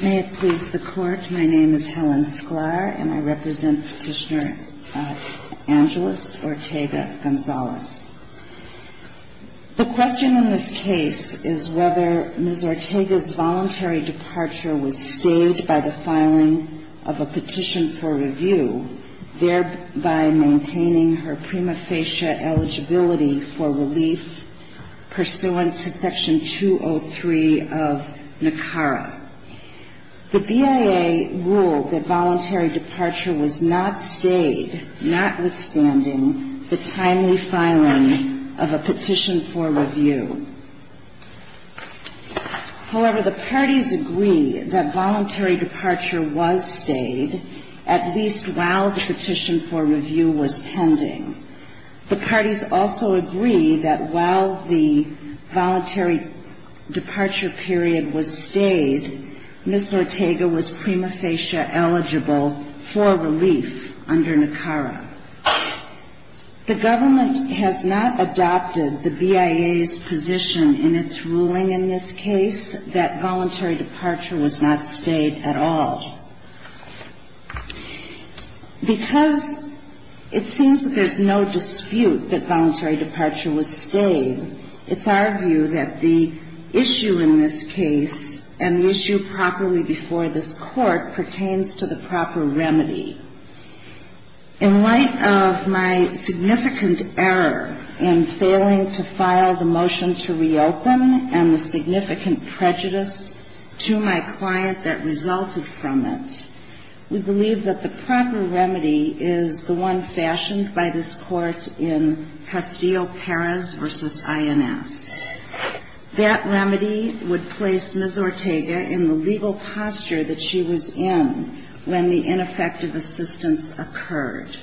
May it please the Court, my name is Helen Sklar and I represent Petitioner Angelus Ortega Gonzalez. The question in this case is whether Ms. Ortega's voluntary departure was staged by the filing of a petition for review, thereby maintaining her prima facie eligibility for relief pursuant to Section 203 of NACARA. The BIA ruled that voluntary departure was not staged, notwithstanding the timely filing of a petition for review. However, the parties agree that voluntary departure was staged, at least while the petition for review was pending. The parties also agree that while the voluntary departure period was staged, Ms. Ortega was prima facie eligible for relief under NACARA. The government has not adopted the BIA's position in its ruling in this case that voluntary departure was not staged at all. Because it seems that there's no dispute that voluntary departure was staged, it's our view that the issue in this case and the issue properly before this Court pertains to the proper remedy. In light of my significant error in failing to file the motion to reopen and the significant prejudice to my client that resulted from it, we believe that the proper remedy is the one fashioned by this Court in Castillo-Perez v. INS. That remedy would place Ms. Ortega in the legal posture that she was in when the ineffective assistance occurred.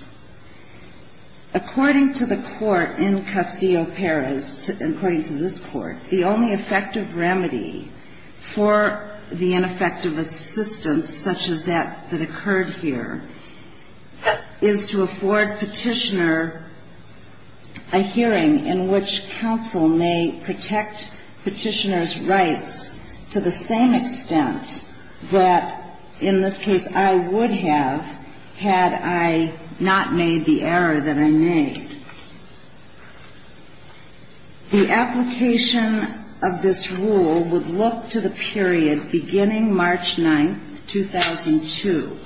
According to the Court in Castillo-Perez, according to this Court, the only effective remedy for the ineffective assistance such as that that occurred here is to afford Petitioner a hearing in which counsel may protect Petitioner's rights to the same extent that, in this case, I would have had I not made the error that I made. The application of this rule would look to the period beginning March 9, 2002,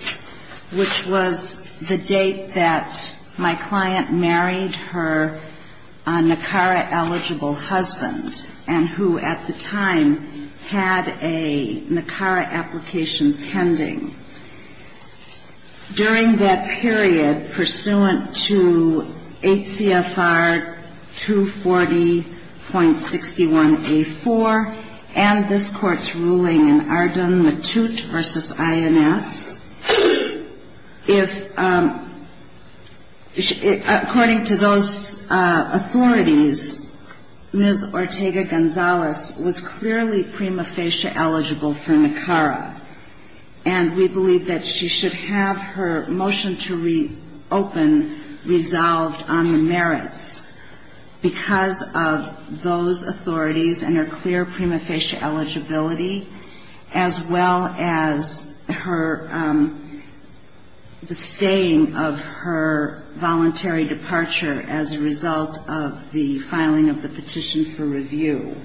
which was the date that my client married her NACARA-eligible husband and who, at the time, had a NACARA application pending. During that period, pursuant to HCFR 240.61a4 and this Court's ruling in Arden-Mattut v. INS, if, according to those authorities, Ms. Ortega-Gonzalez was clearly prima facie eligible for NACARA, and we believe that she should have her motion to reopen resolved on the merits because of those authorities and her clear prima facie eligibility, as well as the staying of her voluntary departure as a result of the filing of the petition for review.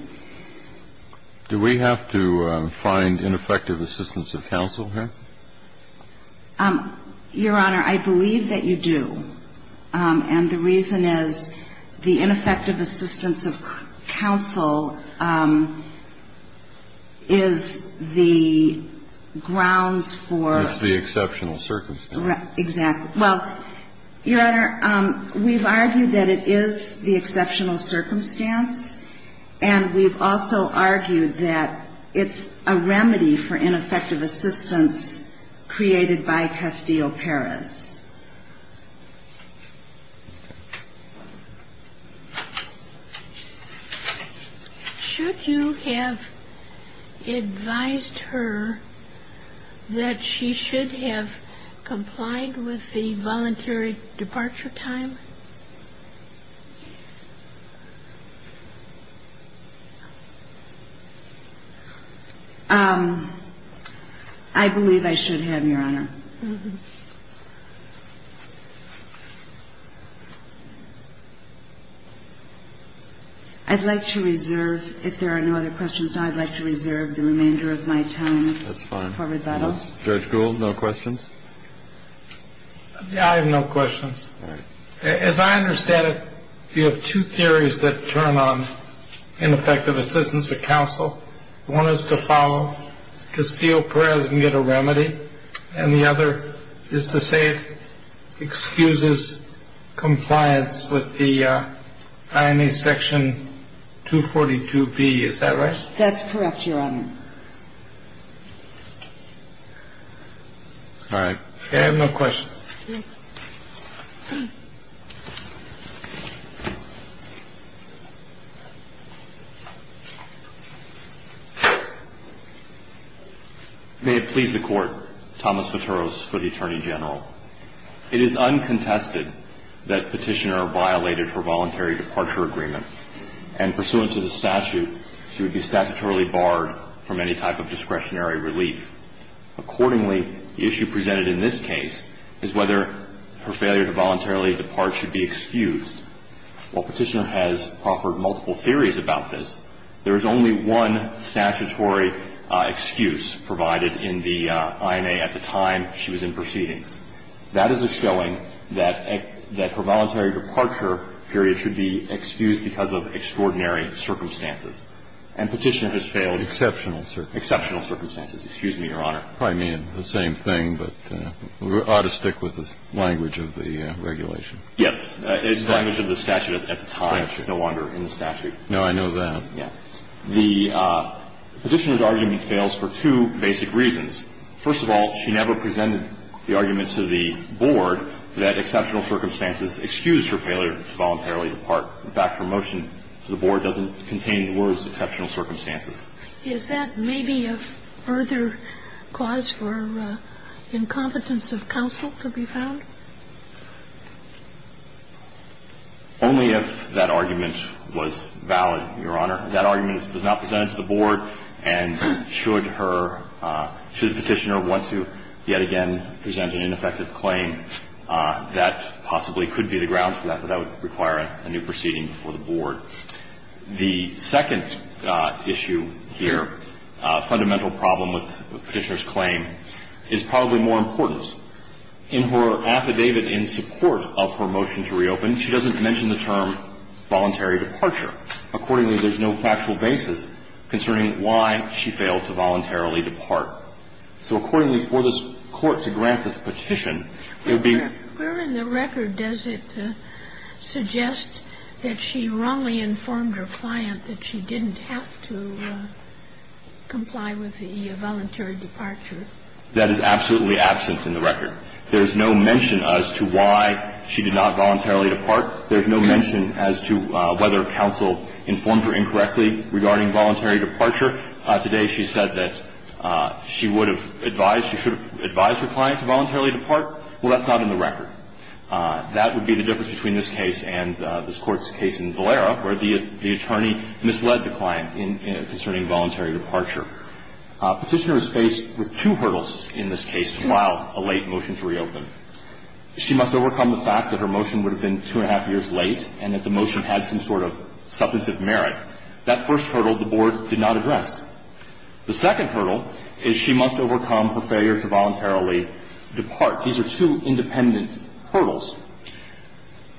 Do we have to find ineffective assistance of counsel here? Your Honor, I believe that you do. And the reason is the ineffective assistance of counsel is the grounds for the exceptional circumstance. Exactly. Well, Your Honor, we've argued that it is the exceptional circumstance, and we've also argued that it's a remedy for ineffective assistance created by Castillo-Perez. Should you have advised her that she should have complied with the voluntary departure time? I believe I should have, Your Honor. I'd like to reserve, if there are no other questions, I'd like to reserve the remainder of my time for rebuttal. That's fine. Judge Gould, no questions? I have no questions. All right. As I understand it, you have two theories that turn on ineffective assistance of counsel. One is to follow Castillo-Perez and get a remedy, and the other is to say it excuses compliance with the IMA Section 242B. Is that right? That's correct, Your Honor. All right. I have no questions. May it please the Court, Thomas Viteros for the Attorney General. It is uncontested that Petitioner violated her voluntary departure agreement, and pursuant to the statute, she would be statutorily barred from any type of discretionary relief. Accordingly, the issue presented in this case is that Petitioner violated her voluntary departure agreement. The question is whether her failure to voluntarily depart should be excused. While Petitioner has offered multiple theories about this, there is only one statutory excuse provided in the IMA at the time she was in proceedings. That is a showing that her voluntary departure period should be excused because of extraordinary circumstances. And Petitioner has failed. Exceptional circumstances. Exceptional circumstances. Excuse me, Your Honor. I probably mean the same thing, but we ought to stick with the language of the regulation. Yes. It's the language of the statute at the time. It's no wonder in the statute. No, I know that. Yes. The Petitioner's argument fails for two basic reasons. First of all, she never presented the argument to the Board that exceptional circumstances excused her failure to voluntarily depart. In fact, her motion to the Board doesn't contain the words exceptional circumstances. Is that maybe a further cause for incompetence of counsel to be found? Only if that argument was valid, Your Honor. If that argument was not presented to the Board, and should her – should Petitioner want to yet again present an ineffective claim, that possibly could be the ground for that, but that would require a new proceeding before the Board. The second issue here, fundamental problem with Petitioner's claim, is probably more important. In her affidavit in support of her motion to reopen, she doesn't mention the term voluntary departure. Accordingly, there's no factual basis concerning why she failed to voluntarily depart. So accordingly, for this Court to grant this petition, there would be – Where in the record does it suggest that she wrongly informed her client that she didn't have to comply with the voluntary departure? That is absolutely absent in the record. There's no mention as to why she did not voluntarily depart. There's no mention as to whether counsel informed her incorrectly regarding voluntary departure. Today she said that she would have advised – she should have advised her client to voluntarily depart. Well, that's not in the record. That would be the difference between this case and this Court's case in Valera, where the attorney misled the client concerning voluntary departure. Petitioner is faced with two hurdles in this case to allow a late motion to reopen. She must overcome the fact that her motion would have been two and a half years late and that the motion had some sort of substantive merit. That first hurdle the Board did not address. The second hurdle is she must overcome her failure to voluntarily depart. These are two independent hurdles.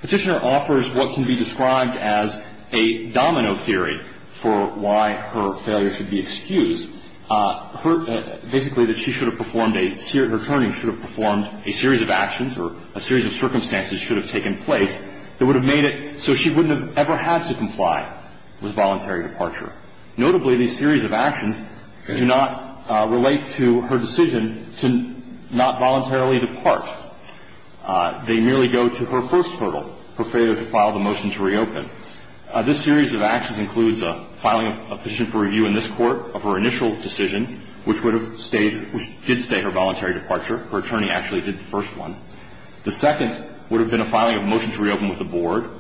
Petitioner offers what can be described as a domino theory for why her failure should be excused, her – basically that she should have performed a – her attorney should have performed a series of actions or a series of circumstances should have taken place that would have made it so she wouldn't have ever had to comply with voluntary departure. Notably, these series of actions do not relate to her decision to not voluntarily depart. They merely go to her first hurdle, her failure to file the motion to reopen. This series of actions includes filing a petition for review in this Court of her initial decision, which would have stayed – which did stay her voluntary departure. Her attorney actually did the first one. The second would have been a filing of a motion to reopen with the Board.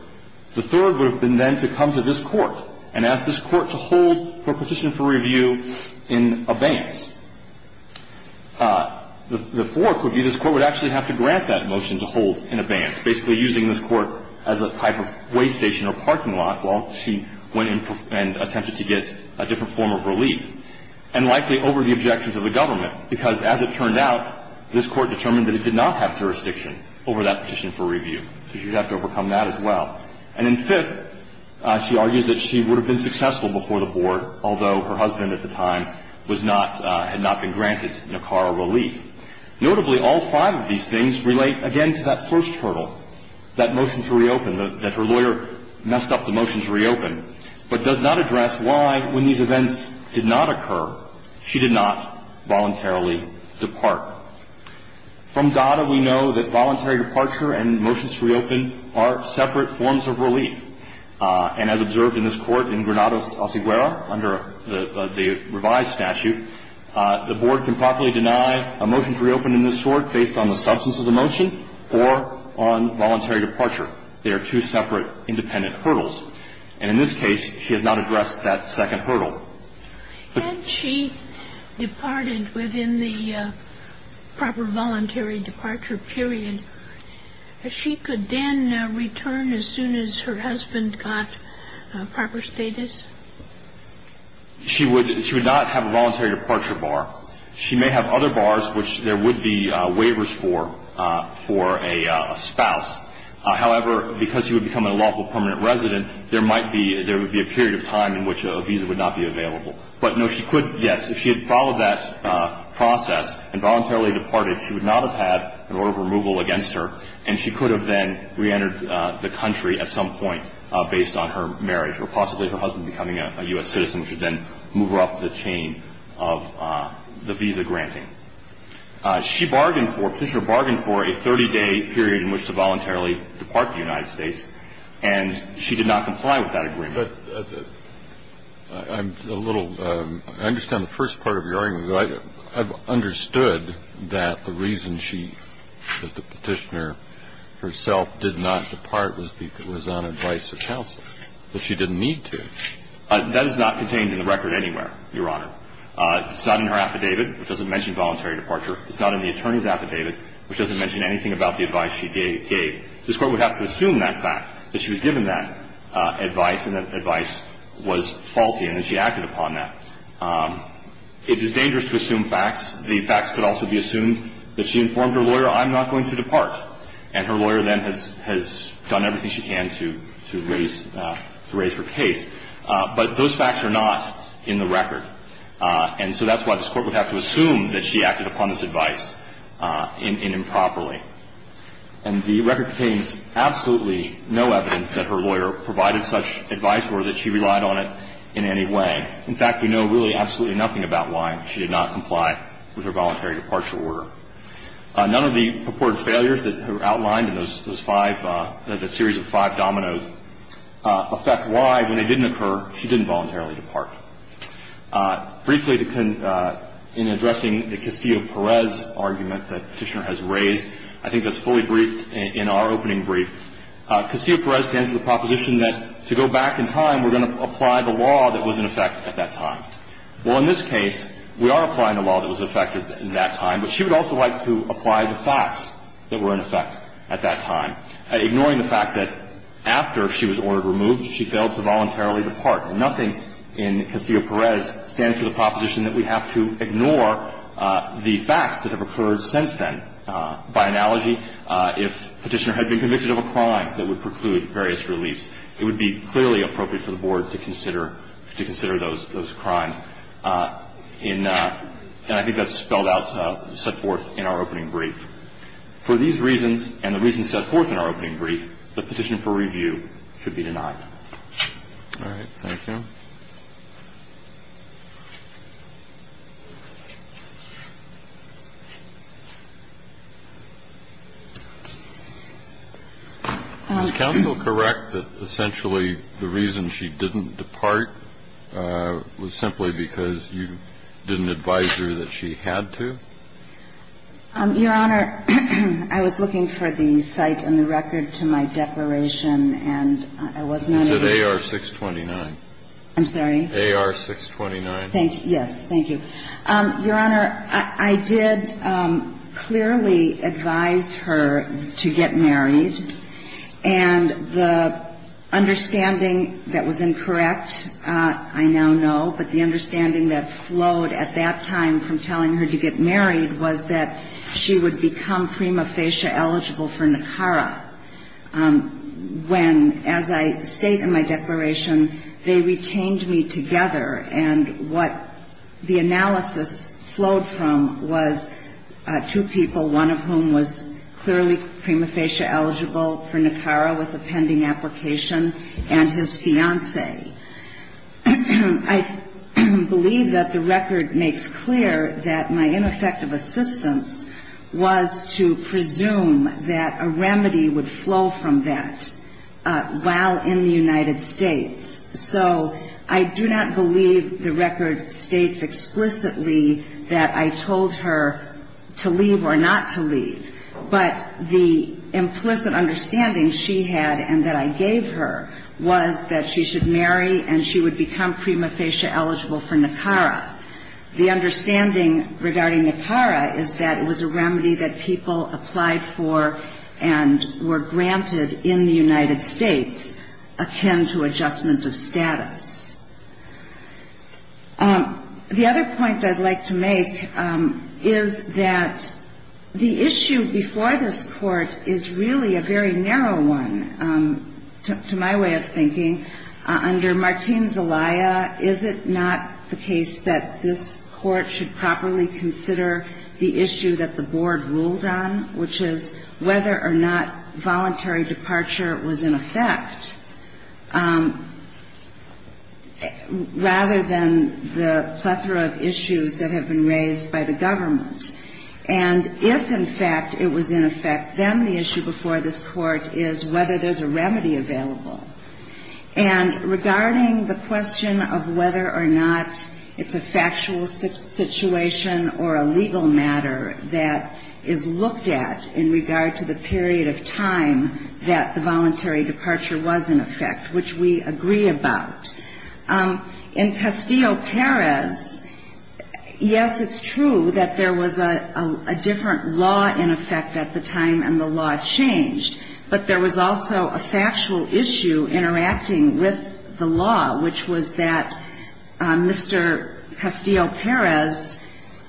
The third would have been then to come to this Court and ask this Court to hold her petition for review in abeyance. The fourth would be this Court would actually have to grant that motion to hold in abeyance, basically using this Court as a type of weigh station or parking lot while she went and attempted to get a different form of relief, and likely over the objections of the government, because as it turned out, this Court determined that it did not have jurisdiction over that petition for review. So she would have to overcome that as well. And in fifth, she argues that she would have been successful before the Board, although her husband at the time was not – had not been granted NACARA relief. Notably, all five of these things relate, again, to that first hurdle, that motion to reopen, that her lawyer messed up the motion to reopen, but does not address why, when these events did not occur, she did not voluntarily depart. From DADA, we know that voluntary departure and motions to reopen are separate forms of relief. And as observed in this Court in Granados, Alciguera, under the revised statute, the Board can properly deny a motion to reopen in this Court based on the substance of the motion or on voluntary departure. They are two separate independent hurdles. And in this case, she has not addressed that second hurdle. Had she departed within the proper voluntary departure period, she could then return as soon as her husband got proper status? She would not have a voluntary departure bar. She may have other bars, which there would be waivers for, for a spouse. However, because she would become a lawful permanent resident, there might be – there But, no, she could – yes, if she had followed that process and voluntarily departed, she would not have had an order of removal against her, and she could have then reentered the country at some point based on her marriage or possibly her husband becoming a U.S. citizen, which would then move her up the chain of the visa granting. She bargained for – Petitioner bargained for a 30-day period in which to voluntarily depart the United States, and she did not comply with that agreement. But I'm a little – I understand the first part of your argument. I've understood that the reason she – that the Petitioner herself did not depart was on advice of counsel, but she didn't need to. That is not contained in the record anywhere, Your Honor. It's not in her affidavit, which doesn't mention voluntary departure. It's not in the attorney's affidavit, which doesn't mention anything about the advice she gave. This Court would have to assume that fact, that she was given that advice and that advice was faulty and that she acted upon that. It is dangerous to assume facts. The facts could also be assumed that she informed her lawyer, I'm not going to depart, and her lawyer then has done everything she can to raise her case. But those facts are not in the record. And so that's why this Court would have to assume that she acted upon this advice improperly. And the record contains absolutely no evidence that her lawyer provided such advice for her that she relied on it in any way. In fact, we know really absolutely nothing about why she did not comply with her voluntary departure order. None of the purported failures that are outlined in those five – the series of five dominoes affect why, when they didn't occur, she didn't voluntarily depart. Briefly, in addressing the Castillo-Perez argument that Petitioner has raised, I think that's fully briefed in our opening brief. Castillo-Perez stands to the proposition that to go back in time, we're going to apply the law that was in effect at that time. Well, in this case, we are applying the law that was in effect at that time, but she would also like to apply the facts that were in effect at that time, ignoring the fact that after she was ordered removed, she failed to voluntarily depart. Nothing in Castillo-Perez stands to the proposition that we have to ignore the facts that have occurred since then. By analogy, if Petitioner had been convicted of a crime that would preclude various reliefs, it would be clearly appropriate for the Board to consider those crimes. And I think that's spelled out, set forth in our opening brief. For these reasons and the reasons set forth in our opening brief, the petition for review should be denied. All right. Thank you. Is counsel correct that essentially the reason she didn't depart was simply because you didn't advise her that she had to? Your Honor, I was looking for the site and the record to my declaration, and I wasn't able to find it. It's at AR 629. I'm sorry? AR 629. Yes. Thank you. Your Honor, I did clearly advise her to get married. And the understanding that was incorrect, I now know, but the understanding that flowed at that time from telling her to get married was that she would become prima facie eligible for NACARA, when, as I state in my declaration, they retained me together. And what the analysis flowed from was two people, one of whom was clearly prima facie eligible for NACARA with a pending application, and his fiancée. I believe that the record makes clear that my ineffective assistance was to make presume that a remedy would flow from that while in the United States. So I do not believe the record states explicitly that I told her to leave or not to leave. But the implicit understanding she had and that I gave her was that she should marry and she would become prima facie eligible for NACARA. The understanding regarding NACARA is that it was a remedy that people applied for and were granted in the United States akin to adjustment of status. The other point I'd like to make is that the issue before this Court is really a very narrow one, to my way of thinking. Under Martín Zelaya, is it not the case that this Court should properly consider the issue that the Board ruled on, which is whether or not voluntary departure was in effect, rather than the plethora of issues that have been raised by the government? And if, in fact, it was in effect, then the issue before this Court is whether there's a remedy available. And regarding the question of whether or not it's a factual situation or a legal matter that is looked at in regard to the period of time that the voluntary departure was in effect, which we agree about. In Castillo-Perez, yes, it's true that there was a different law in effect at the time and the law changed, but there was also a factual issue interacting with the law, which was that Mr. Castillo-Perez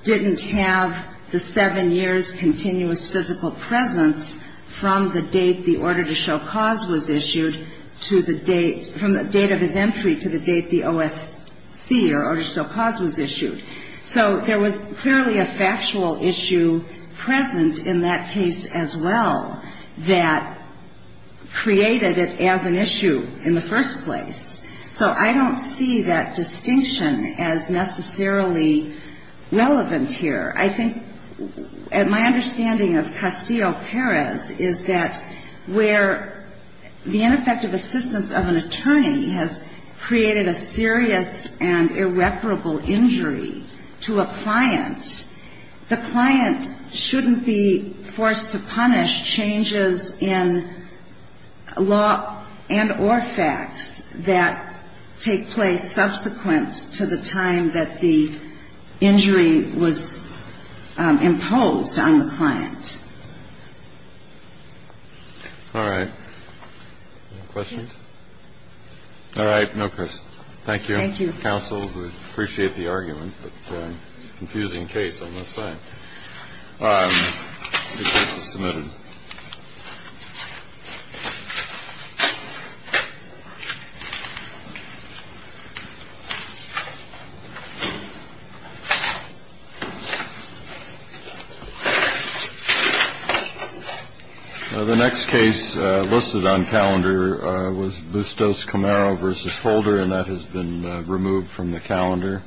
didn't have the seven years' continuous physical presence from the date the order to show cause was issued to the date, from the date of his entry to the date the OSC, or order to show cause, was issued. So there was clearly a factual issue present in that case as well that created it as an issue in the first place. So I don't see that distinction as necessarily relevant here. I think my understanding of Castillo-Perez is that where the ineffective assistance of an attorney has created a serious and irreparable injury to a client, the client shouldn't be forced to punish changes in law and or facts that take place subsequent to the time that the injury was imposed on the client. All right. Any questions? All right. No questions. Thank you. Thank you. Counsel, we appreciate the argument, but it's a confusing case, I must say. The case is submitted. The next case listed on calendar was Bustos-Camaro v. Holder, and that has been removed from the calendar.